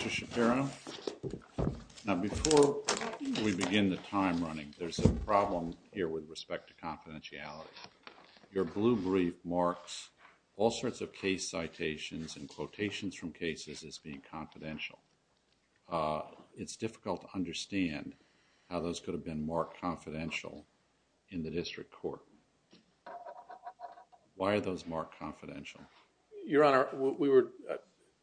Mr. Shapiro, now before we begin the time running, there's a problem here with respect to confidentiality. Your blue brief marks all sorts of case citations and quotations from cases as being confidential. It's difficult to understand how those could have been marked confidential in the district court. Why are those marked confidential? Your Honor, we were,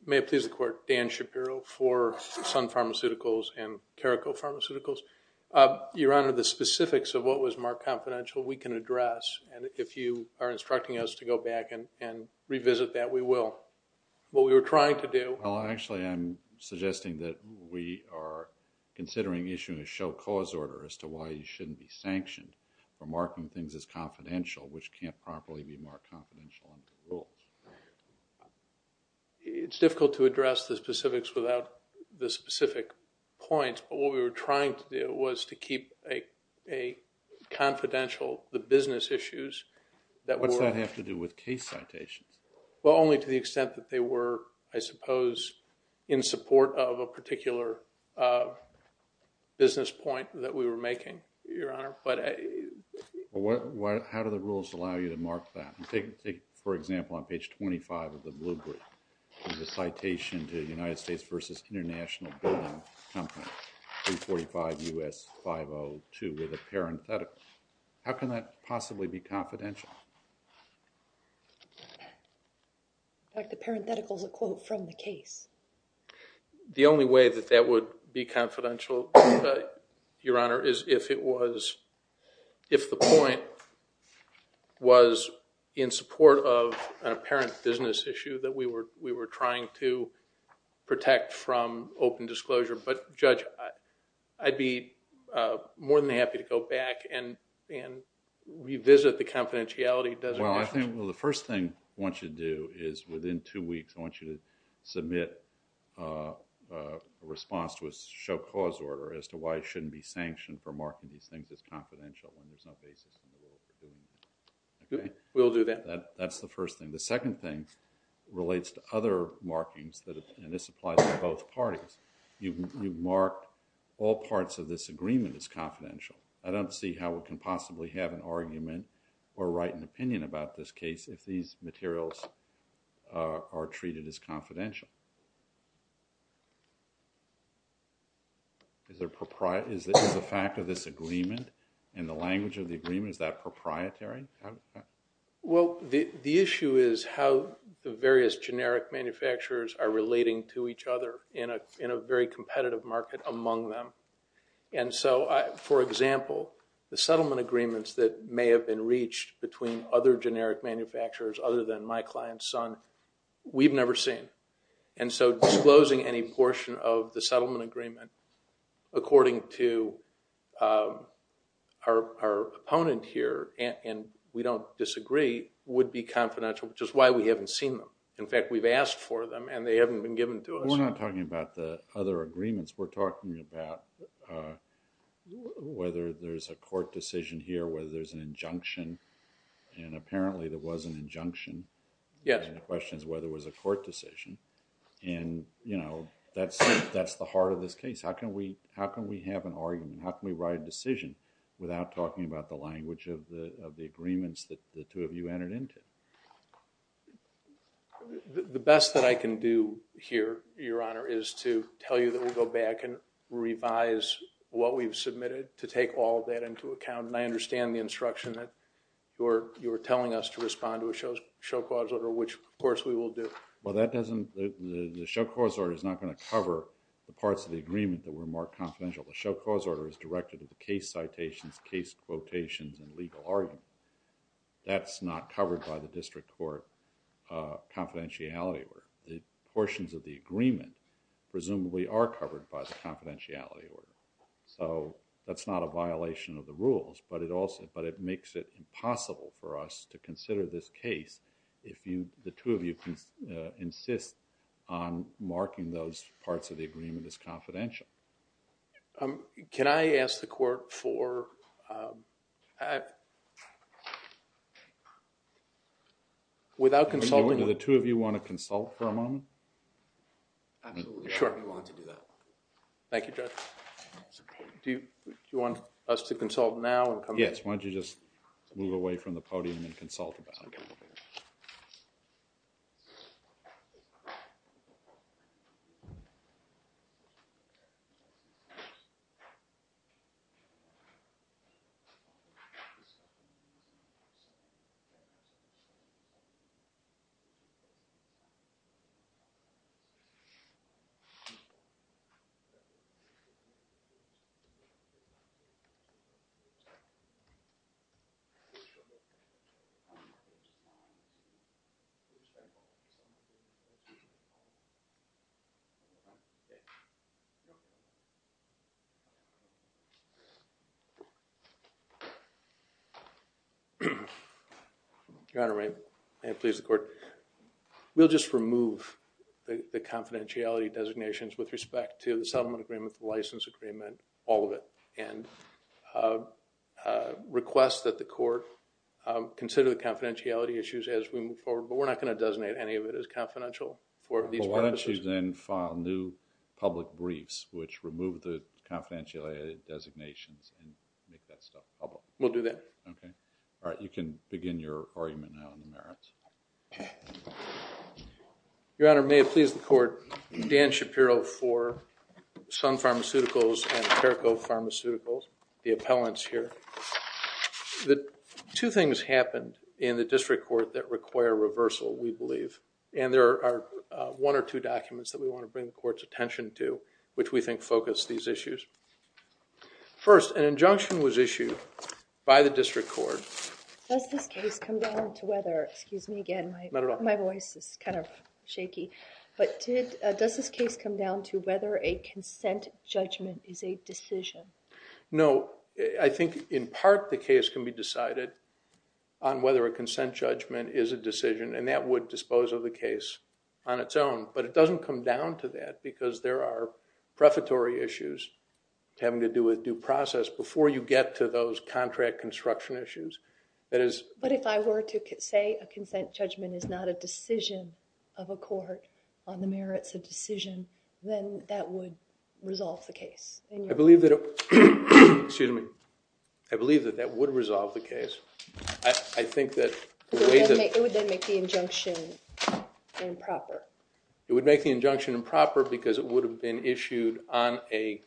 may it please the court, Dan Shapiro for Sun Pharmaceuticals and Careco Pharmaceuticals. Your Honor, the specifics of what was marked confidential, we can address, and if you are instructing us to go back and revisit that, we will. What we were trying to do... Well, actually, I'm suggesting that we are considering issuing a show cause order as to why you shouldn't be sanctioned for marking things as confidential, which can't properly be marked confidential under the rules. Your Honor, it's difficult to address the specifics without the specific points, but what we were trying to do was to keep a confidential, the business issues that were... What's that have to do with case citations? Well, only to the extent that they were, I suppose, in support of a particular business point that we were making, Your Honor. How do the rules allow you to mark that? Take, for example, on page 25 of the blue brief, there's a citation to the United States versus International Building Company, 345 U.S. 502 with a parenthetical. How can that possibly be confidential? In fact, the parenthetical is a quote from the case. The only way that that would be confidential, Your Honor, is if it was, if the point was in support of an apparent business issue that we were trying to protect from open disclosure. But Judge, I'd be more than happy to go back and revisit the confidentiality designation. Well, I think, well, the first thing I want you to do is within two weeks, I want you to submit a response to a show cause order as to why it shouldn't be sanctioned for confidential and there's no basis in the rule. We'll do that. That's the first thing. The second thing relates to other markings that, and this applies to both parties. You've marked all parts of this agreement as confidential. I don't see how we can possibly have an argument or write an opinion about this case if these materials are treated as confidential. Is there, is the fact of this agreement and the language of the agreement, is that proprietary? Well, the issue is how the various generic manufacturers are relating to each other in a very competitive market among them. And so, for example, the settlement agreements that may have been reached between other generic manufacturers other than my client's son, we've never seen. And so disclosing any portion of the settlement agreement according to our opponent here and we don't disagree would be confidential, which is why we haven't seen them. In fact, we've asked for them and they haven't been given to us. We're not talking about the other agreements. We're talking about whether there's a court decision here, whether there's an injunction. And apparently there was an injunction. Yes. The question is whether it was a court decision. And, you know, that's the heart of this case. How can we have an argument? How can we write a decision without talking about the language of the agreements that the two of you entered into? The best that I can do here, Your Honor, is to tell you that we go back and revise what we've submitted to take all of that into account. And I understand the instruction that you were telling us to respond to a show clause order, which, of course, we will do. Well, the show clause order is not going to cover the parts of the agreement that were more confidential. The show clause order is directed to the case citations, case quotations, and legal argument. That's not covered by the district court confidentiality order. The portions of the agreement presumably are covered by the confidentiality order. So that's not a violation of the rules, but it makes it impossible for us to consider this case if the two of you insist on marking those parts of the agreement as confidential. Can I ask the court for, without consulting? Do the two of you want to consult for a moment? Absolutely. Sure. We want to do that. Thank you, Judge. Do you want us to consult now and come back? Yes, why don't you just move away from the podium and consult about it. Your Honor, may it please the court? We'll just remove the confidentiality designations with respect to the settlement agreement, the license agreement, all of it. And request that the court consider the confidentiality issues as we move forward. But we're not going to designate any of it as confidential for these purposes. Well, why don't you then file new public briefs which remove the confidentiality designations and make that stuff public? We'll do that. OK. All right. You can begin your argument now in the merits. Your Honor, may it please the court? Dan Shapiro for Sun Pharmaceuticals and Careco Pharmaceuticals, the appellants here. The two things happened in the district court that require reversal, we believe. And there are one or two documents that we want to bring the court's attention to, which we think focus these issues. First, an injunction was issued by the district court. Does this case come down to whether, excuse me again, my voice is kind of shaky. But does this case come down to whether a consent judgment is a decision? No. I think, in part, the case can be decided on whether a consent judgment is a decision. And that would dispose of the case on its own. But it doesn't come down to that. Because there are prefatory issues having to do with due process before you get to those contract construction issues. But if I were to say a consent judgment is not a decision of a court on the merits of decision, then that would resolve the case. I believe that that would resolve the case. It would then make the injunction improper. It would make the injunction improper because it would have been issued on an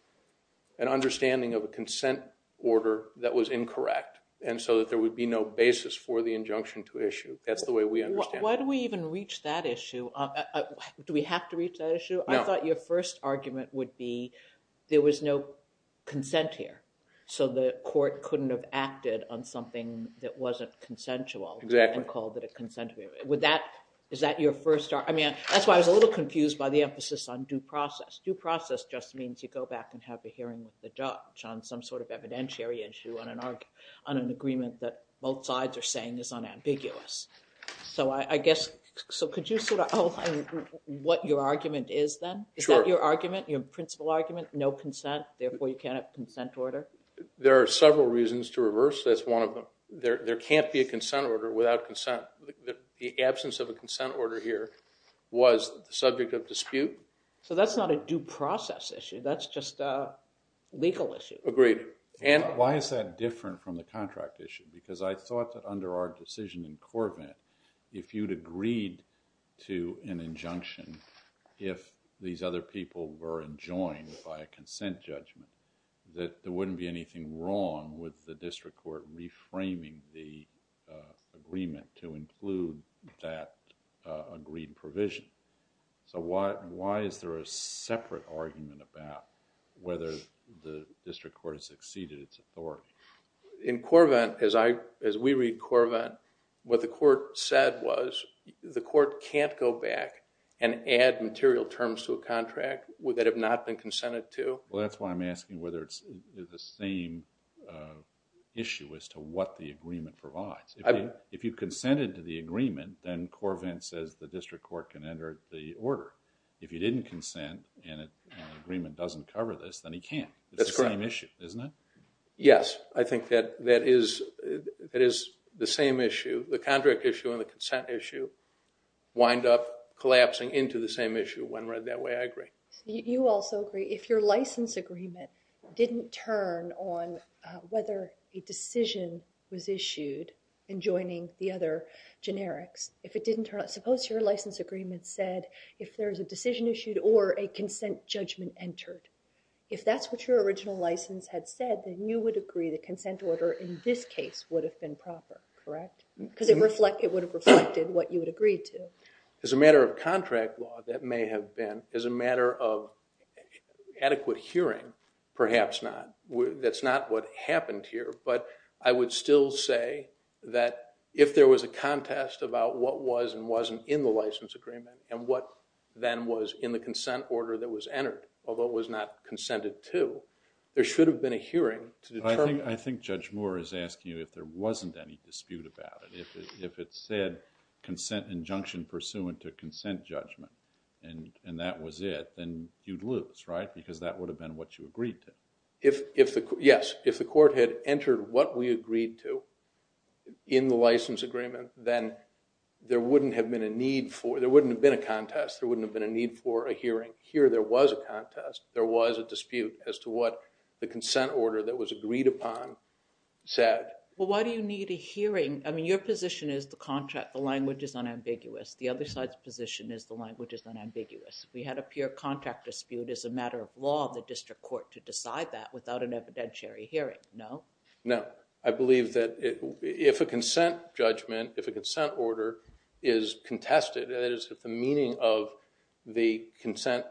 understanding of a consent order that was incorrect. And so that there would be no basis for the injunction to issue. That's the way we understand it. Why do we even reach that issue? Do we have to reach that issue? I thought your first argument would be there was no consent here. So the court couldn't have acted on something that wasn't consensual. Exactly. And called it a consent. Is that your first argument? I mean, that's why I was a little confused by the emphasis on due process. Due process just means you go back and have a hearing with the judge on some sort of evidentiary issue on an argument. An agreement that both sides are saying is unambiguous. So I guess, so could you sort of outline what your argument is then? Is that your argument? Your principal argument? No consent, therefore you can't have a consent order? There are several reasons to reverse. That's one of them. There can't be a consent order without consent. The absence of a consent order here was the subject of dispute. So that's not a due process issue. That's just a legal issue. Agreed. Why is that different from the contract issue? Because I thought that under our decision in Corvette, if you'd agreed to an injunction, if these other people were enjoined by a consent judgment, that there wouldn't be anything wrong with the district court reframing the agreement to include that agreed provision. So why is there a separate argument about whether the district court has exceeded its authority? In Corvette, as we read Corvette, what the court said was the court can't go back and add material terms to a contract that have not been consented to. Well, that's why I'm asking whether it's the same issue as to what the agreement provides. If you consented to the agreement, then Corvette says the district court can enter the order. If you didn't consent and the agreement doesn't cover this, then he can't. It's the same issue, isn't it? Yes. I think that is the same issue. The contract issue and the consent issue wind up collapsing into the same issue when read that way. I agree. You also agree. If your license agreement didn't turn on whether a decision was issued enjoining the other generics, if it didn't turn on, suppose your license agreement said if there's a decision issued or a consent judgment entered, if that's what your original license had said, then you would agree the consent order in this case would have been proper, correct? Because it would have reflected what you would agree to. As a matter of contract law, that may have been. As a matter of adequate hearing, perhaps not. That's not what happened here. But I would still say that if there was a contest about what was and wasn't in the license agreement and what then was in the consent order that was entered, although it was not consented to, there should have been a hearing to determine. I think Judge Moore is asking you if there wasn't any dispute about it. If it said consent injunction pursuant to consent judgment and that was it, then you'd lose, right? Because that would have been what you agreed to. Yes. If the court had entered what we agreed to in the license agreement, then there wouldn't have been a need for, there wouldn't have been a contest. There wouldn't have been a need for a hearing. Here there was a contest. There was a dispute as to what the consent order that was agreed upon said. Well, why do you need a hearing? I mean, your position is the contract, the language is unambiguous. The other side's position is the language is unambiguous. We had a pure contract dispute as a matter of law of the district court to decide that without an evidentiary hearing, no? No. I believe that if a consent judgment, if a consent order is contested, if the meaning of the consent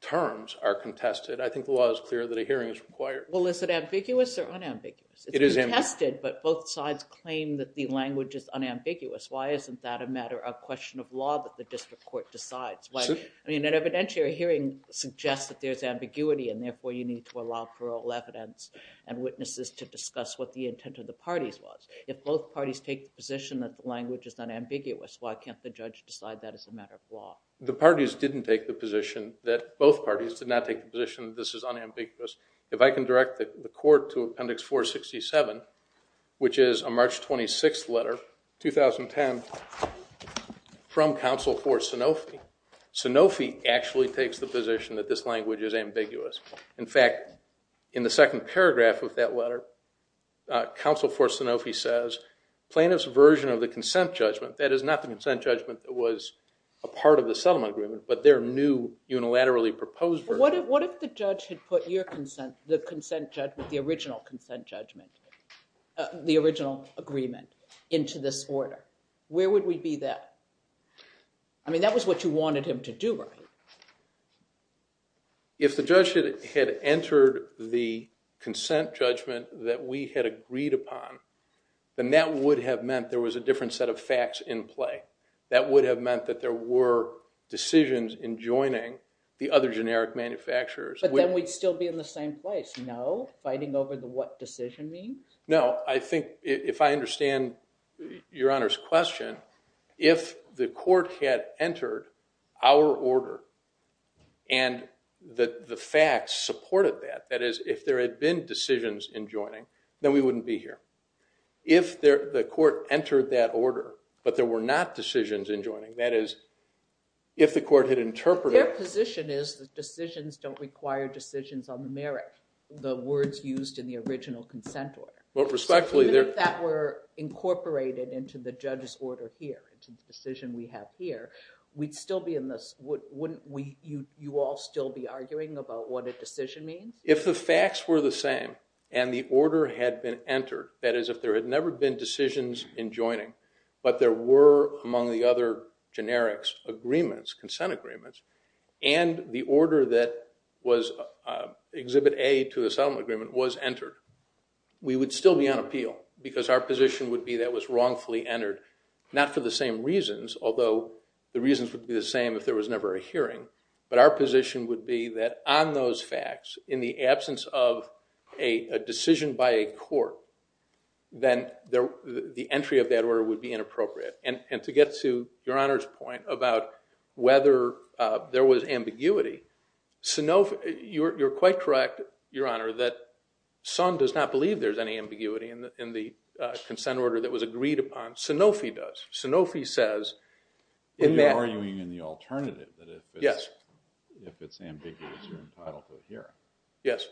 terms are contested, I think the law is clear that a hearing is required. Well, is it ambiguous or unambiguous? It is ambiguous. It's contested, but both sides claim that the language is unambiguous. Why isn't that a matter of question of law that the district court decides? I mean, an evidentiary hearing suggests that there's ambiguity and therefore you need to allow parole evidence and witnesses to discuss what the intent of the parties was. If both parties take the position that the language is unambiguous, why can't the judge decide that as a matter of law? The parties didn't take the position that, both parties did not take the position that this is unambiguous. If I can direct the court to appendix 467, which is a March 26th letter, 2010, from counsel for Sanofi, Sanofi actually takes the position that this language is ambiguous. In fact, in the second paragraph of that letter, counsel for Sanofi says, plaintiff's version of the consent judgment, that is not the consent judgment that was a part of the settlement agreement, but their new unilaterally proposed version. What if the judge had put your consent, the consent judgment, the original consent judgment, the original agreement into this order? Where would we be then? I mean, that was what you wanted him to do, right? If the judge had entered the consent judgment that we had agreed upon, then that would have meant there was a different set of facts in play. That would have meant that there were decisions in joining the other generic manufacturers. But then we'd still be in the same place, no? Fighting over the what decision means? No, I think if I understand your honor's question, if the court had entered our order and the facts supported that, that is, if there had been decisions in joining, then we wouldn't be here. If the court entered that order, but there were not decisions in joining, that is, if the court had interpreted- Their position is that decisions don't require decisions on the merit, the words used in the original consent order. Well, respectfully- Even if that were incorporated into the judge's order here, into the decision we have here, we'd still be in this, wouldn't we, you all still be arguing about what a decision means? If the facts were the same and the order had been entered, that is, if there had never been decisions in joining, but there were, among the other generics, agreements, consent agreements, and the order that was Exhibit A to the settlement agreement was entered, we would still be on appeal, because our position would be that was wrongfully entered, not for the same reasons, although the reasons would be the same if there was never a hearing, but our position would be that on those facts, in the absence of a decision by a court, then the entry of that order would be inappropriate. And to get to Your Honor's point about whether there was ambiguity, you're quite correct, Your Honor, that Sun does not believe there's any ambiguity in the consent order that was agreed upon. Sanofi does. Sanofi says- You're arguing in the alternative that if it's ambiguous, you're entitled to a hearing. Yes.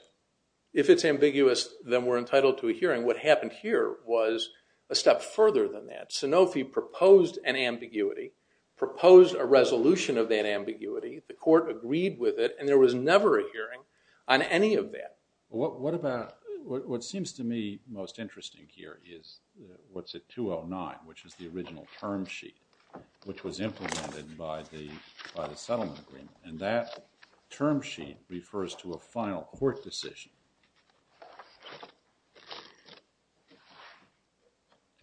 If it's ambiguous, then we're entitled to a hearing. What happened here was a step further than that. Sanofi proposed an ambiguity, proposed a resolution of that ambiguity, the court agreed with it, and there was never a hearing on any of that. What seems to me most interesting here is what's at 209, which is the original term sheet, which was implemented by the settlement agreement. And that term sheet refers to a final court decision.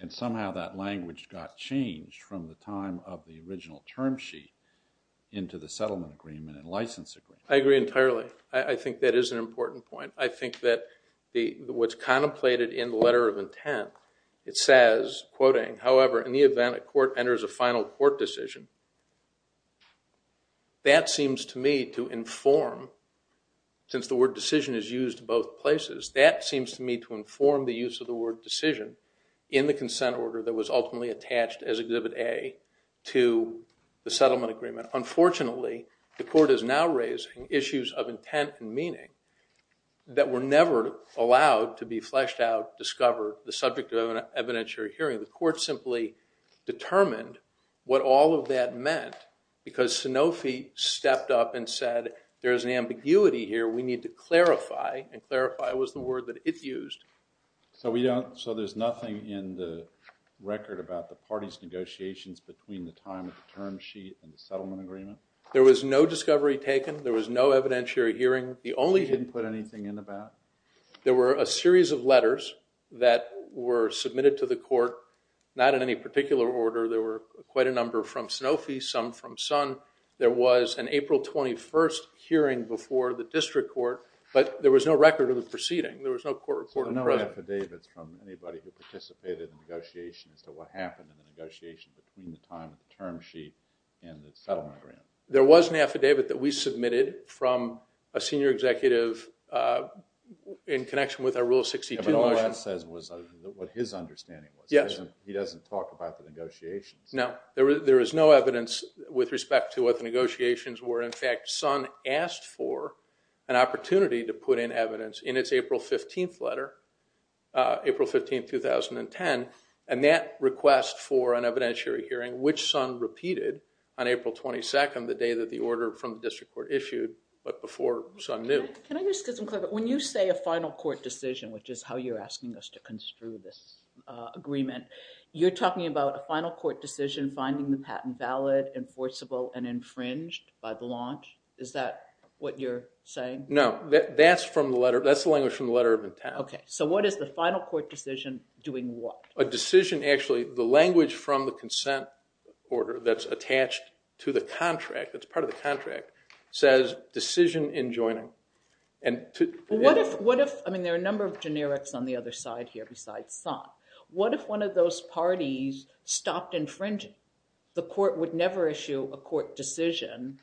And somehow that language got changed from the time of the original term sheet into the settlement agreement and license agreement. I agree entirely. I think that is an important point. I think that what's contemplated in the letter of intent, it says, quoting, however, in the event a court enters a final court decision, that seems to me to inform, since the word decision is used both places, that seems to me to inform the use of the word decision in the consent order that was ultimately attached as Exhibit A to the settlement agreement. Unfortunately, the court is now raising issues of intent and meaning that were never allowed to be fleshed out, discovered, the subject of an evidentiary hearing. The court simply determined what all of that meant because Sanofi stepped up and said, there is an ambiguity here. We need to clarify. And clarify was the word that it used. So we don't, so there's nothing in the record about the party's negotiations between the time of the term sheet and the settlement agreement? There was no discovery taken. There was no evidentiary hearing. The only thing- You didn't put anything in the back? There were a series of letters that were submitted to the court, not in any particular order. There were quite a number from Sanofi, some from Sun. There was an April 21st hearing before the district court, but there was no record of the proceeding. There was no court report- So no affidavits from anybody who participated in negotiations to what happened in the negotiation between the time of the term sheet and the settlement agreement? There was an affidavit that we submitted from a senior executive in connection with our Rule of 62 motion. But all that says was what his understanding was. Yes. He doesn't talk about the negotiations. No, there is no evidence with respect to what the negotiations were. In fact, Sun asked for an opportunity to put in evidence in its April 15th letter, April 15, 2010, and that request for an evidentiary hearing, which Sun repeated on April 22nd, the day that the order from the district court issued, but before Sun knew. Can I just get some clarification? When you say a final court decision, which is how you're asking us to construe this agreement, you're talking about a final court decision finding the patent valid, enforceable, and infringed by the launch? Is that what you're saying? No, that's the language from the letter of intent. OK, so what is the final court decision doing what? A decision, actually, the language from the consent order that's attached to the contract, that's part of the contract, says decision in joining. And what if, I mean, there are a number of generics on the other side here besides Sun. What if one of those parties stopped infringing? The court would never issue a court decision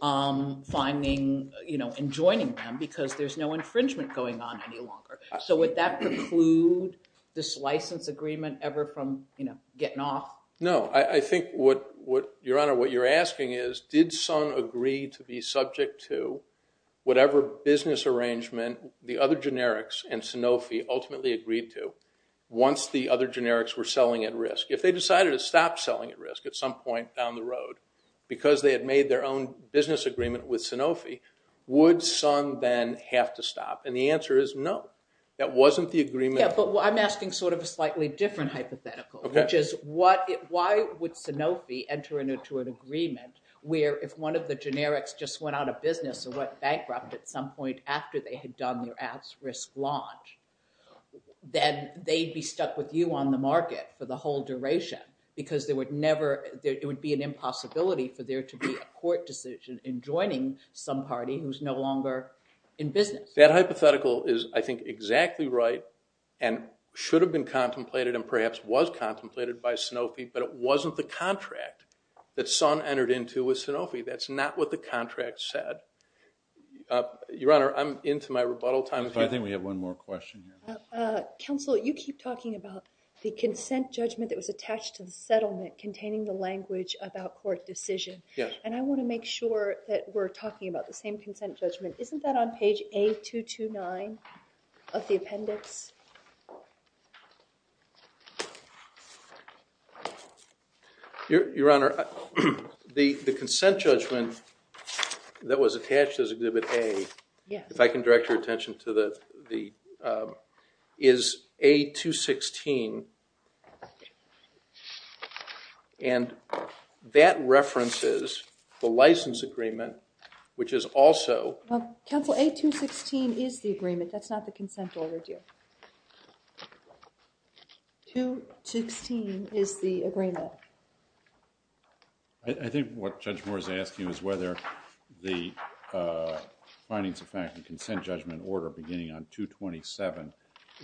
finding, you know, in joining them because there's no infringement going on any longer. So would that preclude this license agreement ever from, you know, getting off? No, I think what, Your Honor, what you're asking is, did Sun agree to be subject to whatever business arrangement the other generics and Sanofi ultimately agreed to once the other generics were selling at risk? If they decided to stop selling at risk at some point down the road because they had made their own business agreement with Sanofi, would Sun then have to stop? And the answer is no, that wasn't the agreement. Yeah, but I'm asking sort of a slightly different hypothetical, which is why would Sanofi enter into an agreement where if one of the generics just went out of business or went bankrupt at some point after they had done their at-risk launch, then they'd be stuck with you on the market for the whole duration because there would never, it would be an impossibility for there to be a court decision in joining some party who's no longer in business. That hypothetical is, I think, exactly right and should have been contemplated and perhaps was contemplated by Sanofi, but it wasn't the contract that Sun entered into with Sanofi. That's not what the contract said. Your Honor, I'm into my rebuttal time. I think we have one more question. Counsel, you keep talking about the consent judgment that was attached to the settlement containing the language about court decision, and I want to make sure that we're talking about the same consent judgment. Isn't that on page A229 of the appendix? Your Honor, the consent judgment that was attached as Exhibit A, if I can direct your attention to the, is A216, and that references the license agreement, which is also... Counsel, A216 is the agreement. That's not the consent order, dear. 216 is the agreement. I think what Judge Moore is asking is whether the findings of fact and consent judgment order beginning on 227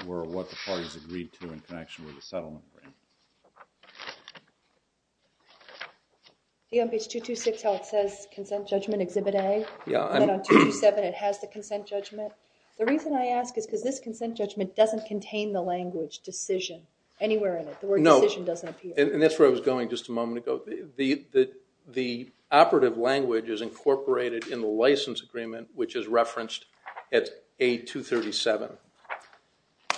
were what the parties agreed to in connection with the settlement frame. See on page 226 how it says consent judgment, Exhibit A? Yeah. And then on 227, it has the consent judgment. The reason I ask is because this consent judgment doesn't contain the language decision anywhere in it. The word decision doesn't appear. And that's where I was going just a moment ago. The operative language is incorporated in the license agreement, which is referenced at A237.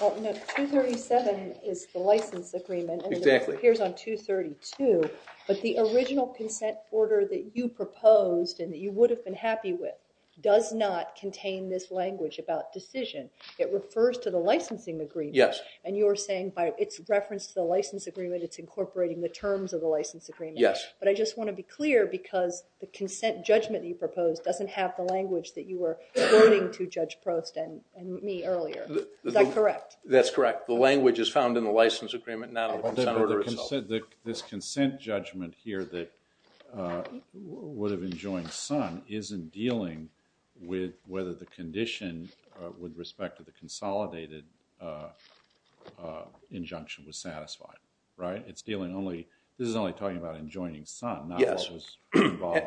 Well, no. 237 is the license agreement. Exactly. It appears on 232, but the original consent order that you proposed and that you would have been happy with does not contain this language about decision. It refers to the licensing agreement. Yes. And you're saying it's referenced to the license agreement. It's incorporating the terms of the license agreement. Yes. But I just want to be clear because the consent judgment that you proposed doesn't have the language that you were quoting to Judge Prost and me earlier. Is that correct? That's correct. The language is found in the license agreement, not on the consent order itself. This consent judgment here that would have enjoined Sun isn't dealing with whether the condition with respect to the consolidated injunction was satisfied. Right. It's dealing only this is only talking about enjoining Sun, not what was involved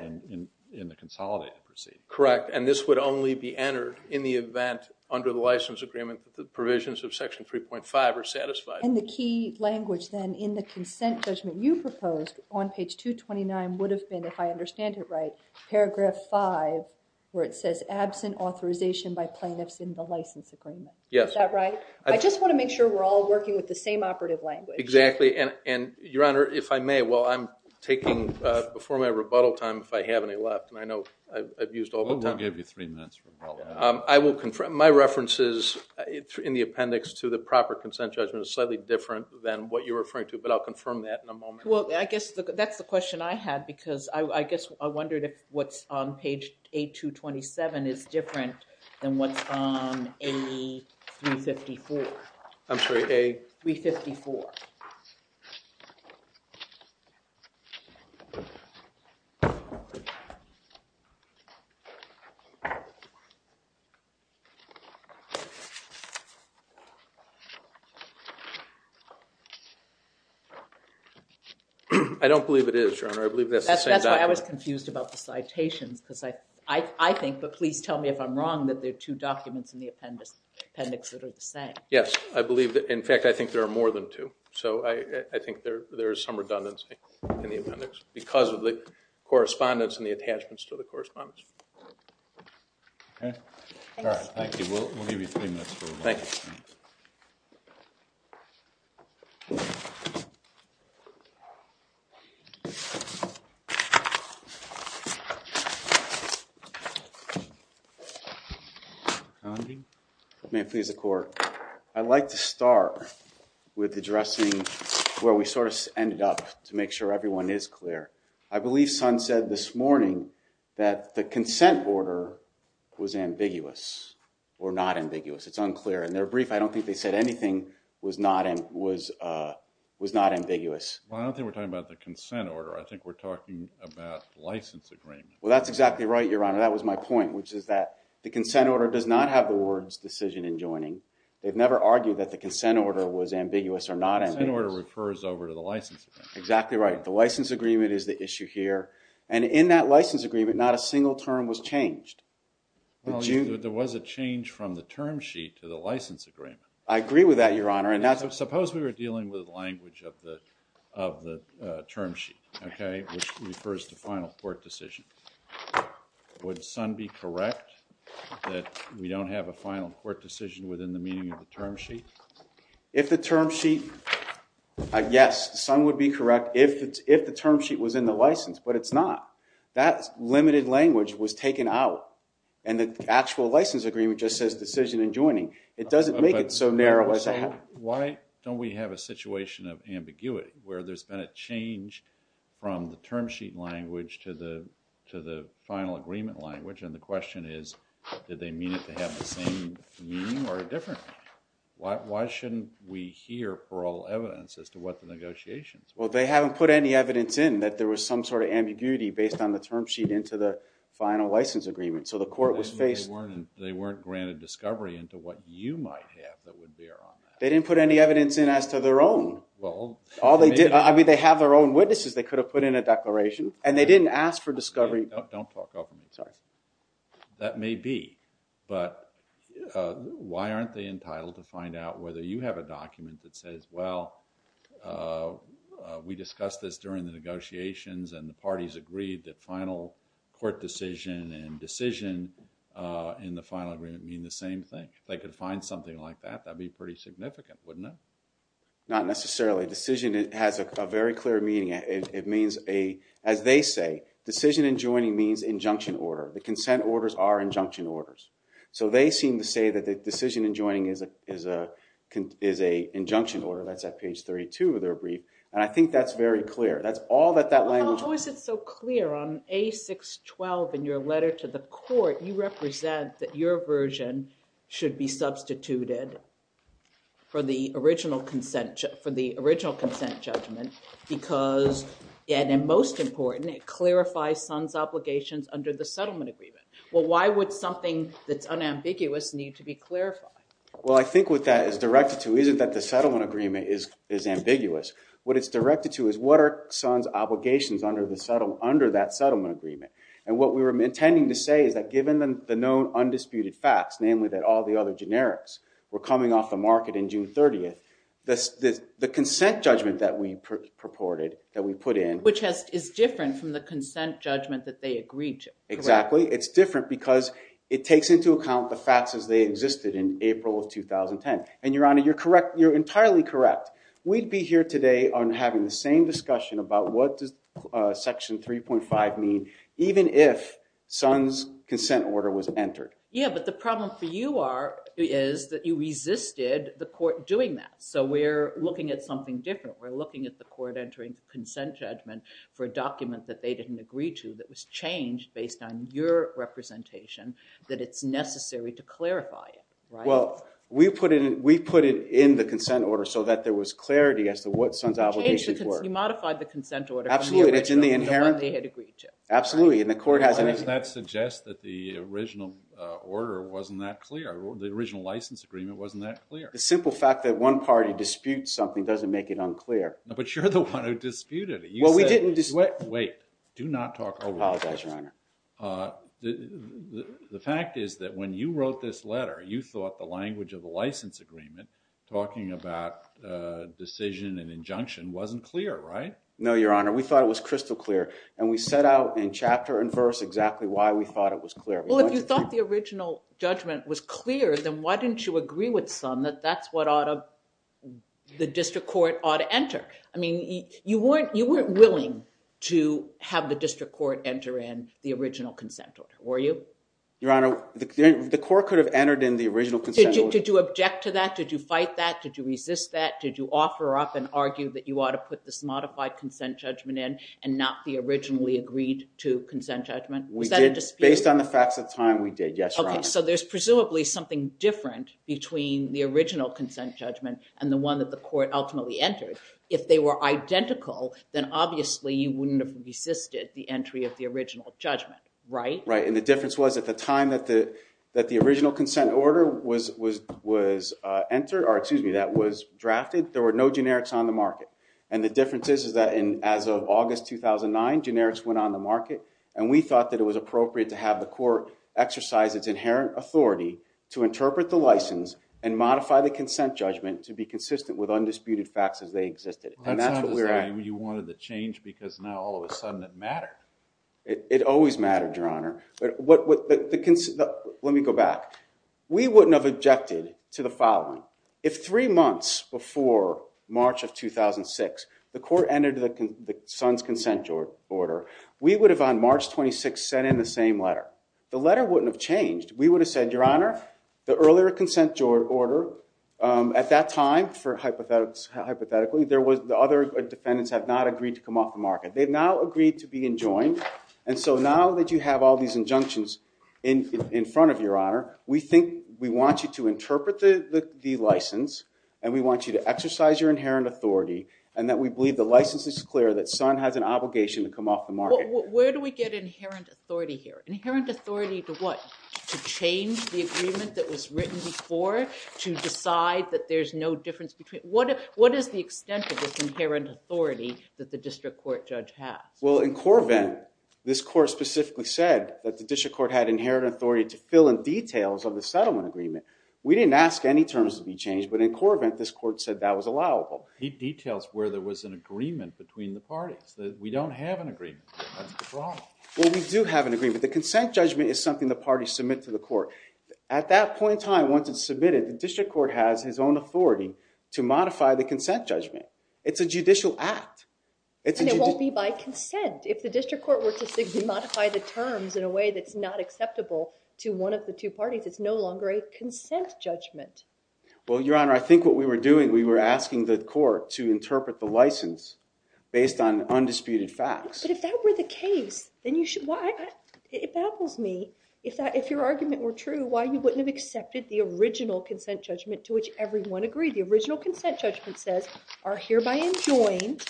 in the consolidated proceeding. Correct. And this would only be entered in the event under the license agreement that the provisions of Section 3.5 are satisfied. And the key language then in the consent judgment you proposed on page 229 would have been, if I understand it right, paragraph 5 where it says absent authorization by plaintiffs in the license agreement. Yes. Is that right? I just want to make sure we're all working with the same operative language. Exactly. And Your Honor, if I may, well, I'm taking before my rebuttal time if I have any left and I know I've used all the time. We'll give you three minutes. I will confirm my references in the appendix to the proper consent judgment is slightly different than what you're referring to, but I'll confirm that in a moment. Well, I guess that's the question I had because I guess I wondered if what's on page 8227 is different than what's on A354. I'm sorry, A? 354. I don't believe it is, Your Honor. I believe that's the same document. That's why I was confused about the citations because I think, but please tell me if I'm wrong, that there are two documents in the appendix that are the same. Yes, I believe that. In fact, I think there are more than two. So, I think there's some redundancy in the appendix because of the correspondence and the attachments to the correspondence. Okay, all right. Thank you. We'll give you three minutes. Thank you. May it please the court. I'd like to start with addressing where we sort of ended up to make sure everyone is clear. I believe Sun said this morning that the consent order was ambiguous or not ambiguous. It's unclear. In their brief, I don't think they said anything was not ambiguous. Well, I don't think we're talking about the consent order. I think we're talking about license agreement. Well, that's exactly right, Your Honor. That was my point, which is that the consent order does not have the words decision and joining. They've never argued that the consent order was ambiguous or not. The consent order refers over to the license agreement. Exactly right. The license agreement is the issue here. And in that license agreement, not a single term was changed. Well, there was a change from the term sheet to the license agreement. I agree with that, Your Honor. And suppose we were dealing with the language of the term sheet, okay, which refers to final court decision. Would Sun be correct that we don't have a final court decision within the meaning of the term sheet? If the term sheet, yes, Sun would be correct if the term sheet was in the license, but it's not. That limited language was taken out and the actual license agreement just says decision and joining. It doesn't make it so narrow as I have. Why don't we have a situation of ambiguity where there's been a change from the term sheet language to the final agreement language? And the question is, did they mean it to have the same meaning or a different meaning? Why shouldn't we hear for all evidence as to what the negotiations? Well, they haven't put any evidence in that there was some sort of ambiguity based on the term sheet into the final license agreement. So the court was faced. They weren't granted discovery into what you might have that would bear on that. They didn't put any evidence in as to their own. Well, all they did, I mean, they have their own witnesses. They could have put in a declaration and they didn't ask for discovery. Don't talk over me. Sorry. That may be, but why aren't they entitled to find out whether you have a document that says, well, we discussed this during the negotiations and the parties agreed that final court decision and decision in the final agreement mean the same thing? If they could find something like that, that'd be pretty significant, wouldn't it? Not necessarily. Decision has a very clear meaning. It means a, as they say, decision in joining means injunction order. The consent orders are injunction orders. So they seem to say that the decision in joining is a injunction order. That's at page 32 of their brief. And I think that's very clear. That's all that that language- How is it so clear on A612 in your letter to the court, you represent that your version should be substituted for the original consent, for the original consent judgment because, and most important, it clarifies son's obligations under the settlement agreement. Well, why would something that's unambiguous need to be clarified? Well, I think what that is directed to isn't that the settlement agreement is ambiguous. What it's directed to is what are son's obligations under that settlement agreement. And what we were intending to say is that given the known undisputed facts, namely that all the other generics were coming off the market in June 30th, the consent judgment that we purported, that we put in- Which is different from the consent judgment that they agreed to. Exactly. It's different because it takes into account the facts as they existed in April of 2010. And your honor, you're correct. You're entirely correct. We'd be here today on having the same discussion about what does section 3.5 mean even if son's consent order was entered. Yeah, but the problem for you are- is that you resisted the court doing that. So we're looking at something different. We're looking at the court entering the consent judgment for a document that they didn't agree to that was changed based on your representation that it's necessary to clarify it, right? Well, we put it in- we put it in the consent order so that there was clarity as to what son's obligations were. You modified the consent order. Absolutely. It's in the inherent- They had agreed to. Absolutely. And the court hasn't- Does that suggest that the original order wasn't that clear? The original license agreement wasn't that clear. The simple fact that one party disputes something doesn't make it unclear. But you're the one who disputed it. Well, we didn't dispute- Wait. Do not talk over- I apologize, your honor. The fact is that when you wrote this letter, you thought the language of the license agreement talking about decision and injunction wasn't clear, right? No, your honor. We thought it was crystal clear. And we set out in chapter and verse exactly why we thought it was clear. Well, if you thought the original judgment was clear, then why didn't you agree with son that that's what ought to- the district court ought to enter? I mean, you weren't- you weren't willing to have the district court enter in the original consent order, were you? Your honor, the court could have entered in the original consent order- Did you object to that? Did you fight that? Did you resist that? Did you offer up and argue that you ought to put this modified consent judgment in and not the originally agreed to consent judgment? Was that a dispute? Based on the facts of time, we did. Yes, your honor. So there's presumably something different between the original consent judgment and the one that the court ultimately entered. If they were identical, then obviously you wouldn't have resisted the entry of the original judgment, right? Right. And the difference was at the time that the that the original consent order was entered, or excuse me, that was drafted, there were no generics on the market. And the difference is, is that as of August 2009, generics went on the market and we thought that it was appropriate to have the court exercise its inherent authority to interpret the license and modify the consent judgment to be consistent with undisputed facts as they existed. And that's what we were- You wanted the change because now all of a sudden it mattered. It always mattered, your honor. But what- Let me go back. We wouldn't have objected to the following. If three months before March of 2006, the court entered the son's consent order, we would have on March 26 sent in the same letter. The letter wouldn't have changed. We would have said, your honor, the earlier consent order at that time, for hypothetically, there was- the other defendants have not agreed to come off the market. They've now agreed to be enjoined. And so now that you have all these injunctions in front of your honor, we think we want you to interpret the license and we want you to exercise your inherent authority and that we believe the license is clear that son has an obligation to come off the market. Where do we get inherent authority here? Inherent authority to what? To change the agreement that was written before? To decide that there's no difference between- What is the extent of this inherent authority that the district court judge has? Well, in Corvent, this court specifically said that the district court had inherent authority to fill in details of the settlement agreement. We didn't ask any terms to be changed, but in Corvent, this court said that was allowable. He details where there was an agreement between the parties. We don't have an agreement. That's the problem. Well, we do have an agreement. The consent judgment is something the parties submit to the court. At that point in time, once it's submitted, the district court has his own authority to modify the consent judgment. It's a judicial act. And it won't be by consent. If the district court were to modify the terms in a way that's not acceptable to one of the two parties, it's no longer a consent judgment. Well, Your Honor, I think what we were doing, we were asking the court to interpret the license based on undisputed facts. But if that were the case, then you should- Well, it baffles me if your argument were true, why you wouldn't have accepted the original consent judgment to which everyone agreed. The original consent judgment says are hereby enjoined,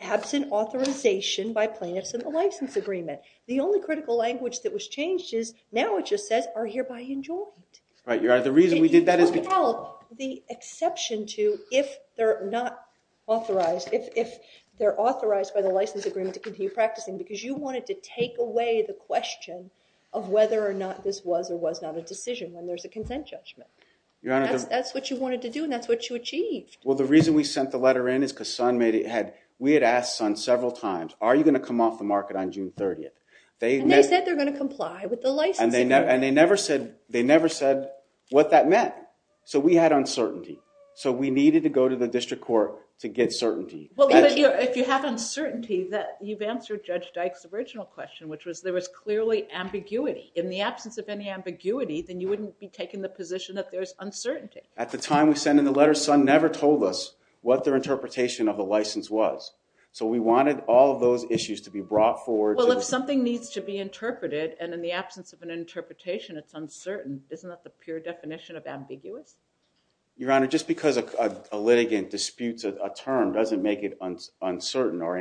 absent authorization by plaintiffs in the license agreement. The only critical language that was changed is, now it just says are hereby enjoined. Right, Your Honor, the reason we did that is- You don't have the exception to if they're not authorized, if they're authorized by the license agreement to continue practicing because you wanted to take away the question of whether or not this was or was not a decision when there's a consent judgment. Your Honor- That's what you wanted to do and that's what you achieved. Well, the reason we sent the letter in is because we had asked Sun several times, are you going to come off the market on June 30th? They- They said they're going to comply with the license agreement. And they never said what that meant. So we had uncertainty. So we needed to go to the district court to get certainty. Well, if you have uncertainty, you've answered Judge Dyke's original question, which was there was clearly ambiguity. In the absence of any ambiguity, then you wouldn't be taking the position that there's uncertainty. At the time we sent in the letter, Sun never told us what their interpretation of the license was. So we wanted all of those issues to be brought forward- Well, if something needs to be interpreted and in the absence of an interpretation, it's uncertain, isn't that the pure definition of ambiguous? Your Honor, just because a litigant disputes a term doesn't make it uncertain or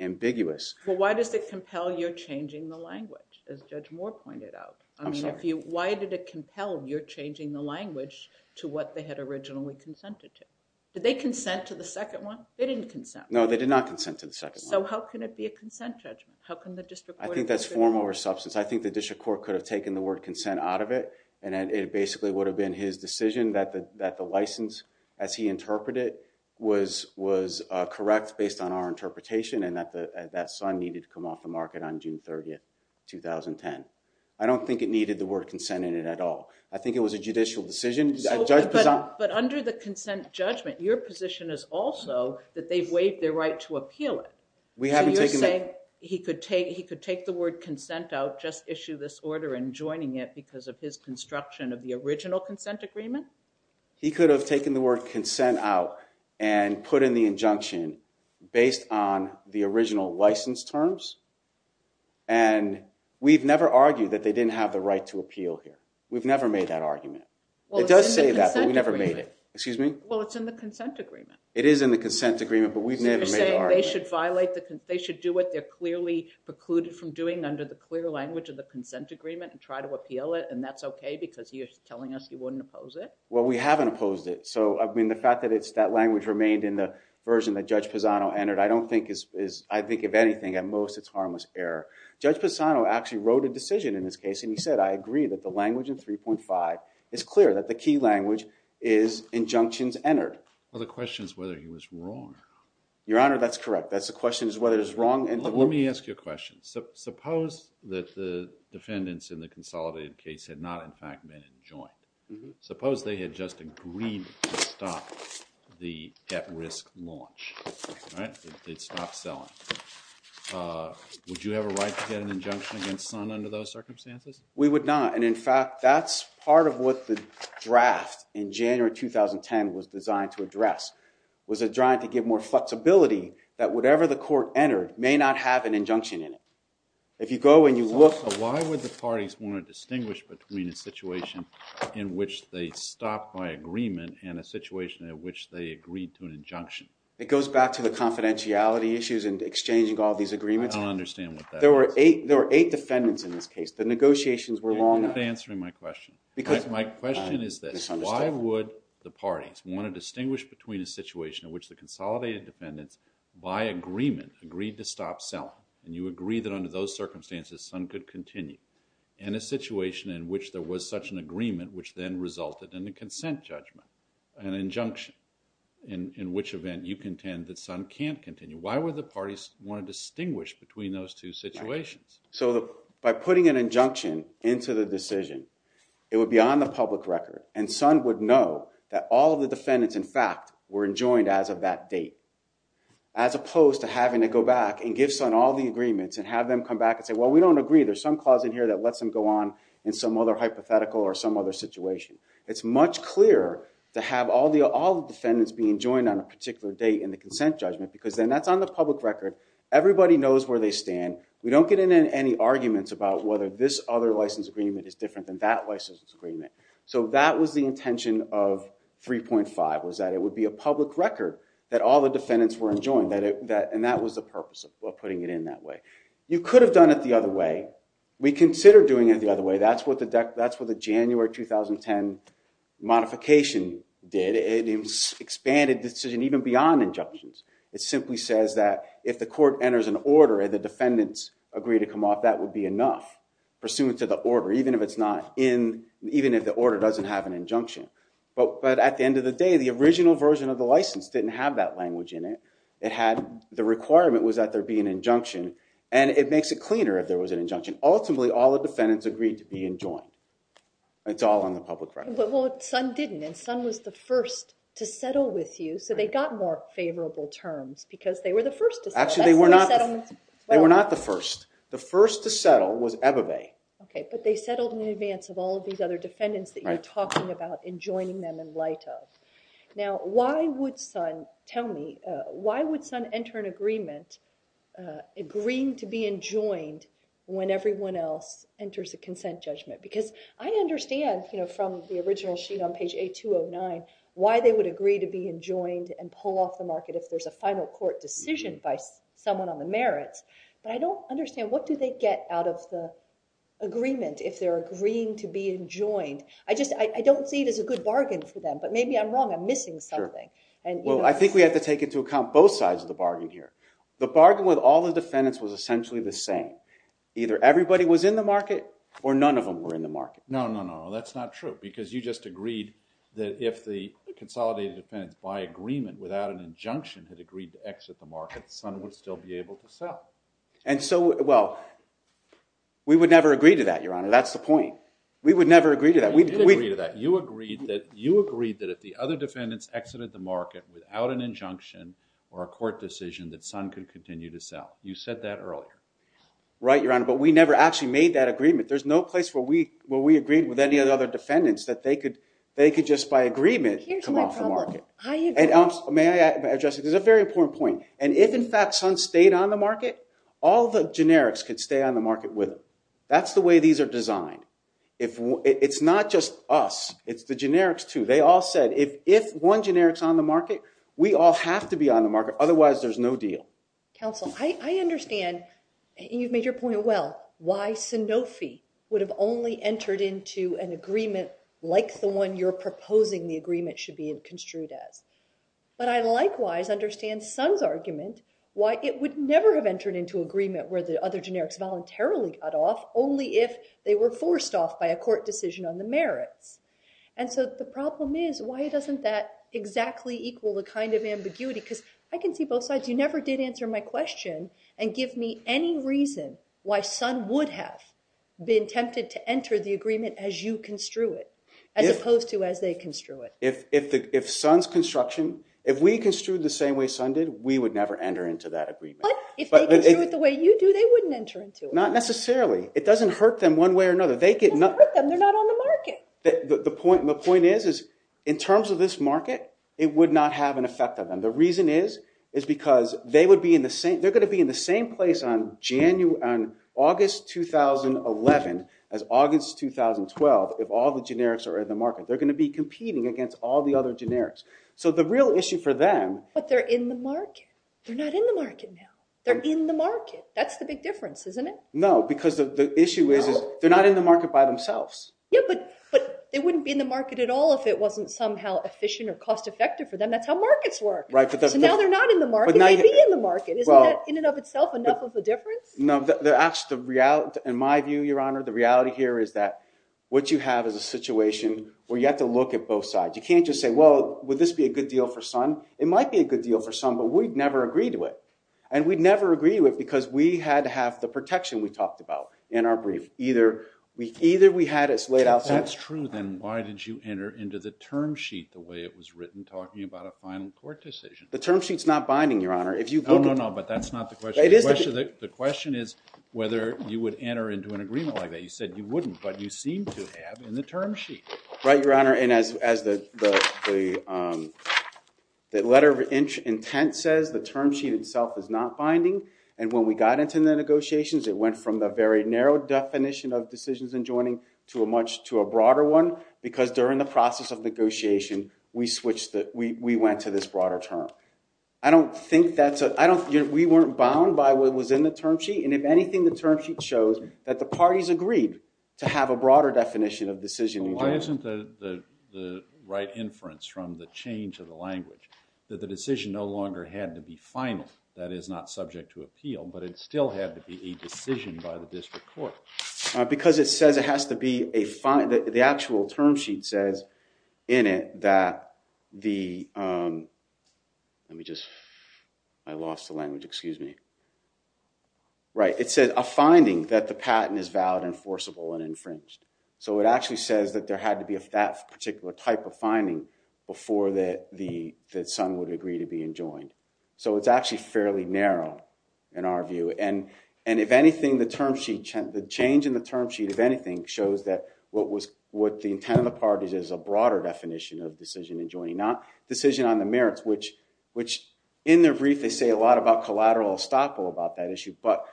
ambiguous. Well, why does it compel you're changing the language, as Judge Moore pointed out? I mean, if you- Why did it compel you're changing the language to what they had originally consented to? Did they consent to the second one? They didn't consent. No, they did not consent to the second one. So how can it be a consent judgment? How can the district court- I think that's form over substance. I think the district court could have taken the word consent out of it, and it basically would have been his decision that the license, as he interpreted it, was correct based on our interpretation and that Sun needed to come off the market on June 30th, 2010. I don't think it needed the word consent in it at all. I think it was a judicial decision. But under the consent judgment, your position is also that they've waived their right to appeal it. So you're saying he could take the word consent out, just issue this order, and joining it because of his construction of the original consent agreement? He could have taken the word consent out and put in the injunction based on the original license terms. And we've never argued that they didn't have the right to appeal here. We've never made that argument. It does say that, but we never made it. Excuse me? Well, it's in the consent agreement. It is in the consent agreement, but we've never made an argument. So you're saying they should do what they're clearly precluded from doing under the clear language of the consent agreement and try to appeal it and that's OK because you're telling us you wouldn't oppose it? Well, we haven't opposed it. So, I mean, the fact that that language remained in the version that Judge Pisano entered, I don't think is, I think if anything, at most it's harmless error. Judge Pisano actually wrote a decision in this case and he said, I agree that the language in 3.5 is clear that the key language is injunctions entered. Well, the question is whether he was wrong. Your Honor, that's correct. That's the question is whether it's wrong. And let me ask you a question. Suppose that the defendants in the consolidated case had not, in fact, been enjoined. Suppose they had just agreed to stop the at-risk launch, right? They'd stop selling. Would you have a right to get an injunction against Sun under those circumstances? We would not. And in fact, that's part of what the draft in January 2010 was designed to address. Was it trying to give more flexibility that whatever the court entered may not have an injunction in it. If you go and you look. Why would the parties want to distinguish between a situation in which they stopped by agreement and a situation in which they agreed to an injunction? It goes back to the confidentiality issues and exchanging all these agreements. I don't understand what that is. There were eight defendants in this case. The negotiations were long. You're not answering my question. My question is this. Why would the parties want to distinguish between a situation in which the consolidated defendants by agreement agreed to stop selling and you agree that under those circumstances, Sun could continue and a situation in which there was such an agreement, which then resulted in a consent judgment, an injunction, in which event you contend that Sun can't continue. Why would the parties want to distinguish between those two situations? So by putting an injunction into the decision, it would be on the public record. Sun would know that all of the defendants, in fact, were enjoined as of that date, as opposed to having to go back and give Sun all the agreements and have them come back and say, well, we don't agree. There's some clause in here that lets them go on in some other hypothetical or some other situation. It's much clearer to have all the defendants being joined on a particular date in the consent judgment because then that's on the public record. Everybody knows where they stand. We don't get into any arguments about whether this other license agreement is different than that license agreement. So that was the intention of 3.5 was that it would be a public record that all the defendants were enjoined and that was the purpose of putting it in that way. You could have done it the other way. We consider doing it the other way. That's what the January 2010 modification did. It expanded decision even beyond injunctions. It simply says that if the court enters an order and the defendants agree to come off, that would be enough pursuant to the order, even if it's not in, even if the order doesn't have an injunction. But at the end of the day, the original version of the license didn't have that language in it. It had the requirement was that there be an injunction and it makes it cleaner if there was an injunction. Ultimately, all the defendants agreed to be enjoined. It's all on the public record. Well, some didn't and some was the first to settle with you. So they got more favorable terms because they were the first. Actually, they were not. They were not the first. The first to settle was Ebebe. OK, but they settled in advance of all of these other defendants that you're talking about enjoining them in light of. Now, why would Sun tell me why would Sun enter an agreement, agreeing to be enjoined when everyone else enters a consent judgment? Because I understand from the original sheet on page 809, why they would agree to be enjoined and pull off the market if there's a final court decision by someone on the merits. But I don't understand what do they get out of the agreement if they're agreeing to be enjoined? I just I don't see it as a good bargain for them. But maybe I'm wrong. I'm missing something. And well, I think we have to take into account both sides of the bargain here. The bargain with all the defendants was essentially the same. Either everybody was in the market or none of them were in the market. No, no, no. That's not true because you just agreed that if the consolidated defense by agreement without an injunction had agreed to exit the market, Sun would still be able to sell. And so, well, we would never agree to that, Your Honor. That's the point. We would never agree to that. We did agree to that. You agreed that if the other defendants exited the market without an injunction or a court decision that Sun could continue to sell. You said that earlier. Right, Your Honor. But we never actually made that agreement. There's no place where we agreed with any other defendants that they could just by agreement come off the market. May I address it? There's a very important point. And if, in fact, Sun stayed on the market, all the generics could stay on the market with them. That's the way these are designed. It's not just us. It's the generics, too. They all said if one generics on the market, we all have to be on the market. Otherwise, there's no deal. Counsel, I understand. You've made your point well, why Sanofi would have only entered into an agreement like the one you're proposing the agreement should be construed as. But I likewise understand Sun's argument why it would never have entered into agreement where the other generics voluntarily got off only if they were forced off by a court decision on the merits. And so the problem is, why doesn't that exactly equal the kind of ambiguity? Because I can see both sides. You never did answer my question and give me any reason why Sun would have been tempted to enter the agreement as you construe it as opposed to as they construe it. If Sun's construction, if we construed the same way Sun did, we would never enter into that agreement. If they do it the way you do, they wouldn't enter into it. Not necessarily. It doesn't hurt them one way or another. It doesn't hurt them. They're not on the market. The point is, is in terms of this market, it would not have an effect on them. The reason is, is because they're going to be in the same place on August 2011 as August 2012 if all the generics are in the market. They're going to be competing against all the other generics. So the real issue for them. But they're in the market. They're not in the market now. They're in the market. That's the big difference, isn't it? No, because the issue is, is they're not in the market by themselves. Yeah, but they wouldn't be in the market at all if it wasn't somehow efficient or cost effective for them. That's how markets work. Right. So now they're not in the market. They'd be in the market. Isn't that in and of itself enough of a difference? No, the actual reality, in my view, Your Honor, the reality here is that what you have is a situation where you have to look at both sides. You can't just say, well, would this be a good deal for Sun? It might be a good deal for Sun, but we'd never agree to it. And we'd never agree to it because we had to have the protection we talked about in our brief. Either we had it laid out. If that's true, then why did you enter into the term sheet the way it was written, talking about a final court decision? The term sheet's not binding, Your Honor. No, no, no. But that's not the question. The question is whether you would enter into an agreement like that. You said you wouldn't, but you seem to have in the term sheet. Right, Your Honor. And as the letter of intent says, the term sheet itself is not binding. And when we got into the negotiations, it went from the very narrow definition of decisions and joining to a much, to a broader one, because during the process of negotiation, we switched, we went to this broader term. I don't think that's, I don't, we weren't bound by what was in the term sheet. And if anything, the term sheet shows that the parties agreed to have a broader definition of decision and joining. Why isn't the right inference from the change of the language that the decision no longer had to be final? That is not subject to appeal, but it still had to be a decision by the district court. Because it says it has to be a fine, the actual term sheet says in it that the, let me just, I lost the language, excuse me. Right, it says a finding that the patent is valid, enforceable, and infringed. So it actually says that there had to be that particular type of finding before the son would agree to be enjoined. So it's actually fairly narrow in our view. And if anything, the term sheet, the change in the term sheet, if anything, shows that what was, what the intent of the parties is a broader definition of decision and joining, not decision on the merits, which in their brief, they say a lot about collateral estoppel But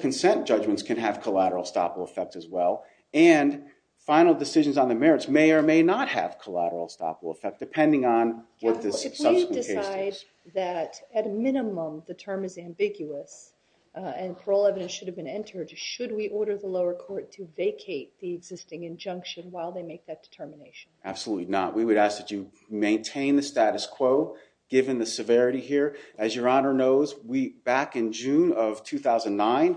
consent judgments can have collateral estoppel effect as well. And final decisions on the merits may or may not have collateral estoppel effect, depending on what the subsequent case is. Counsel, could we decide that, at a minimum, the term is ambiguous and parole evidence should have been entered should we order the lower court to vacate the existing injunction while they make that determination? Absolutely not. We would ask that you maintain the status quo, given the severity here. As your honor knows, we, back in June of 2009,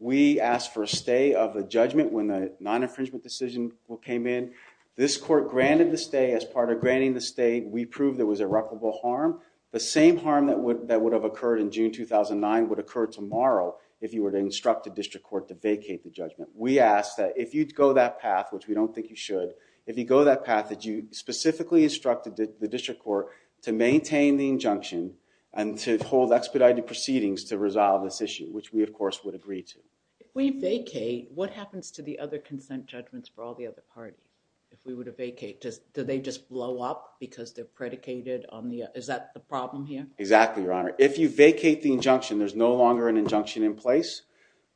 we asked for a stay of a judgment when the non-infringement decision came in. This court granted the stay. As part of granting the stay, we proved there was irreparable harm. The same harm that would have occurred in June 2009 would occur tomorrow if you were to instruct a district court to vacate the judgment. We ask that if you'd go that path, which we don't think you should, if you go that path, that you specifically instructed the district court to maintain the injunction and to hold expedited proceedings to resolve this issue, which we, of course, would agree to. If we vacate, what happens to the other consent judgments for all the other parties? If we were to vacate, do they just blow up because they're predicated on the... Is that the problem here? Exactly, your honor. If you vacate the injunction, there's no longer an injunction in place,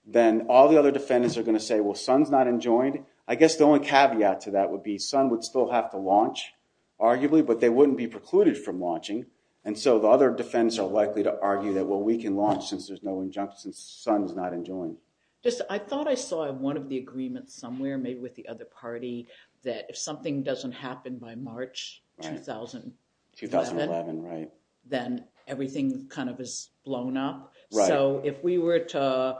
then all the other defendants are going to say, well, son's not enjoined. I guess the only caveat to that would be son would still have to launch, arguably, but they wouldn't be precluded from launching. And so the other defendants are likely to argue that, well, we can launch since there's no injunction, since son's not enjoined. Just, I thought I saw one of the agreements somewhere, maybe with the other party, that if something doesn't happen by March 2011, then everything kind of is blown up. So if we were to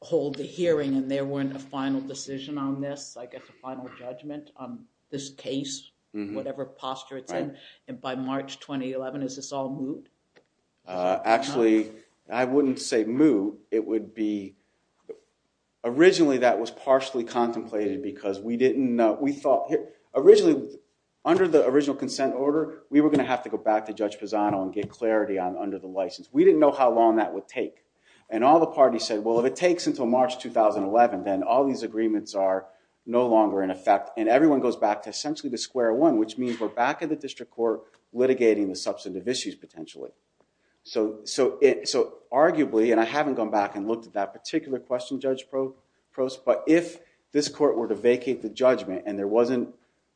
hold the hearing and there weren't a final decision on this, like a final judgment on this case, whatever posture it's in, and by March 2011, is this all moot? Actually, I wouldn't say moot. It would be... Originally, that was partially contemplated because we thought, originally, under the original consent order, we were going to have to go back to Judge Pisano and get clarity on under the license. We didn't know how long that would take. And all the parties said, well, if it takes until March 2011, then all these agreements are no longer in effect. And everyone goes back to essentially the square one, which means we're back at the district court litigating the substantive issues, potentially. So arguably, and I haven't gone back and looked at that particular question, Judge Prost, but if this court were to vacate the judgment and there wasn't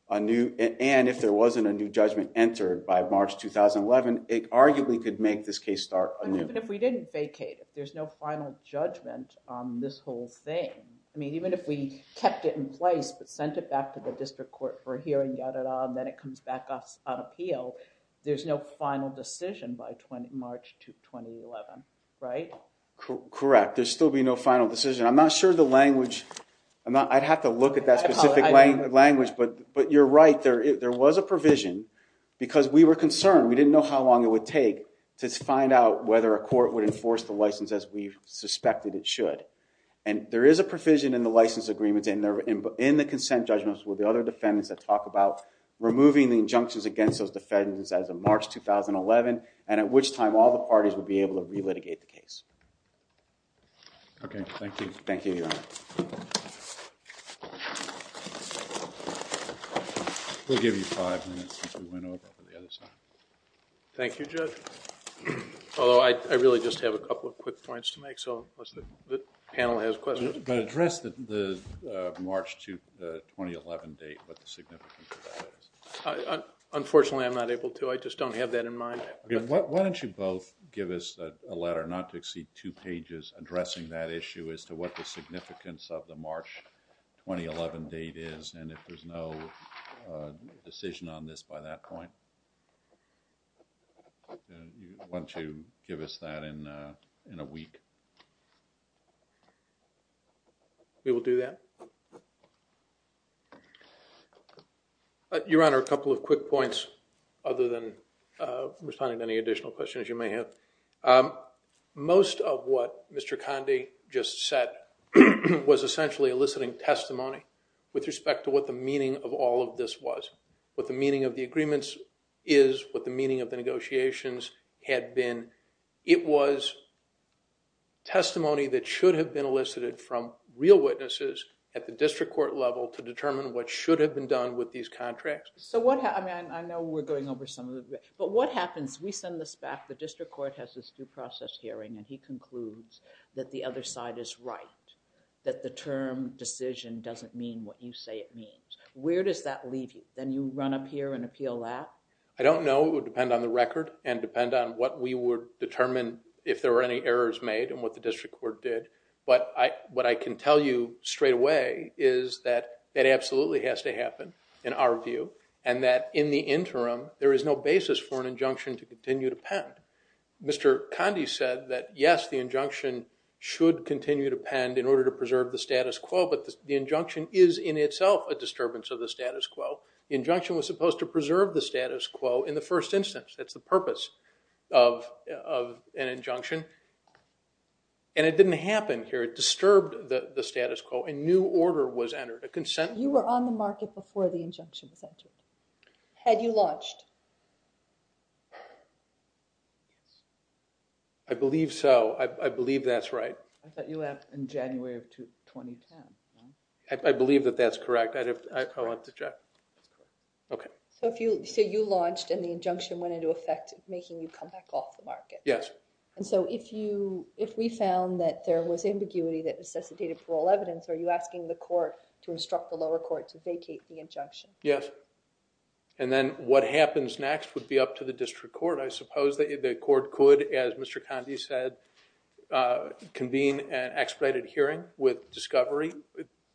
a new... And if there wasn't a new judgment entered by March 2011, it arguably could make this case start anew. But even if we didn't vacate, if there's no final judgment on this whole thing, I mean, even if we kept it in place but sent it back to the district court for a hearing, got it on, then it comes back on appeal, there's no final decision by March 2011, right? Correct. There'd still be no final decision. I'm not sure the language... I'd have to look at that specific language, but you're right, there was a provision because we were concerned. We didn't know how long it would take to find out whether a court would enforce the license as we suspected it should. And there is a provision in the license agreements and they're in the consent judgments with the other defendants that talk about removing the injunctions against those defendants and at which time all the parties would be able to re-litigate the case. Okay, thank you. Thank you, Your Honor. We'll give you five minutes since we went over to the other side. Thank you, Judge. Although I really just have a couple of quick points to make, so unless the panel has questions. But address the March 2011 date, what the significance of that is. Unfortunately, I'm not able to. I just don't have that in mind. Why don't you both give us a letter, not to exceed two pages, addressing that issue as to what the significance of the March 2011 date is and if there's no decision on this by that point. Why don't you give us that in a week? We will do that. Your Honor, a couple of quick points other than responding to any additional questions you may have. Most of what Mr. Conde just said was essentially eliciting testimony with respect to what the meaning of all of this was, what the meaning of the agreements is, what the meaning of the negotiations had been. It was testimony that should have been elicited from real witnesses at the district court level to determine what should have been done with these contracts. So what, I mean, I know we're going over some of it. But what happens, we send this back, the district court has this due process hearing and he concludes that the other side is right, that the term decision doesn't mean what you say it means. Where does that leave you? Then you run up here and appeal that? I don't know. It would depend on the record and depend on what we would determine if there were any errors made and what the district court did. But what I can tell you straight away is that it absolutely has to happen in our view and that in the interim, there is no basis for an injunction to continue to pen. Mr. Conde said that, yes, the injunction should continue to pen in order to preserve the status quo. But the injunction is in itself a disturbance of the status quo. The injunction was supposed to preserve the status quo in the first instance. That's the purpose of an injunction. And it didn't happen here. It disturbed the status quo. A new order was entered, a consent. You were on the market before the injunction was entered. Had you lodged? I believe so. I believe that's right. I thought you left in January of 2010. I believe that that's correct. I'll have to check. Okay. So you launched and the injunction went into effect making you come back off the market. Yes. And so if we found that there was ambiguity that necessitated parole evidence, are you asking the court to instruct the lower court to vacate the injunction? Yes. And then what happens next would be up to the district court. I suppose the court could, as Mr. Condi said, convene an expedited hearing with discovery.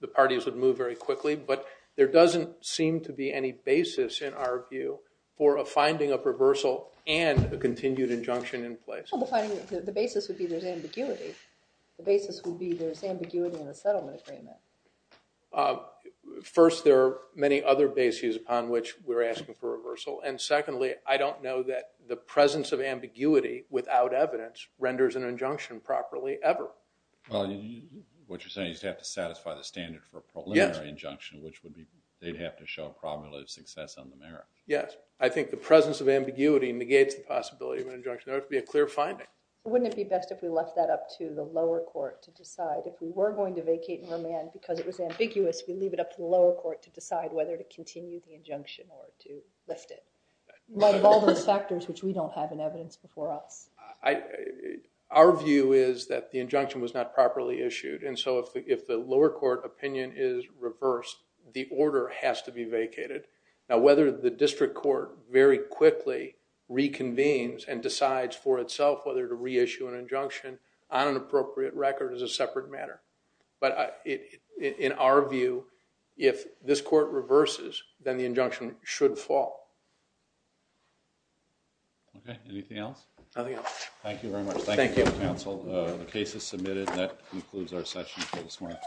The parties would move very quickly. But there doesn't seem to be any basis in our view for a finding of reversal and a continued injunction in place. Well, the basis would be there's ambiguity. The basis would be there's ambiguity in the settlement agreement. First, there are many other bases upon which we're asking for reversal. And secondly, I don't know that the presence of ambiguity without evidence renders an injunction properly ever. Well, what you're saying is you'd have to satisfy the standard for a preliminary injunction, which would be they'd have to show a probability of success on the merit. Yes. I think the presence of ambiguity negates the possibility of an injunction. There would have to be a clear finding. Wouldn't it be best if we left that up to the lower court to decide if we were going to vacate and remand because it was ambiguous, we leave it up to the lower court to decide whether to continue the injunction or to lift it? Like all those factors which we don't have in evidence before us. Our view is that the injunction was not properly issued. And so if the lower court opinion is reversed, the order has to be vacated. Now, whether the district court very quickly reconvenes and decides for itself whether to reissue an injunction on an appropriate record is a separate matter. But in our view, if this court reverses, then the injunction should fall. Okay, anything else? Nothing else. Thank you very much. Thank you, counsel. The case is submitted. That concludes our session for this morning.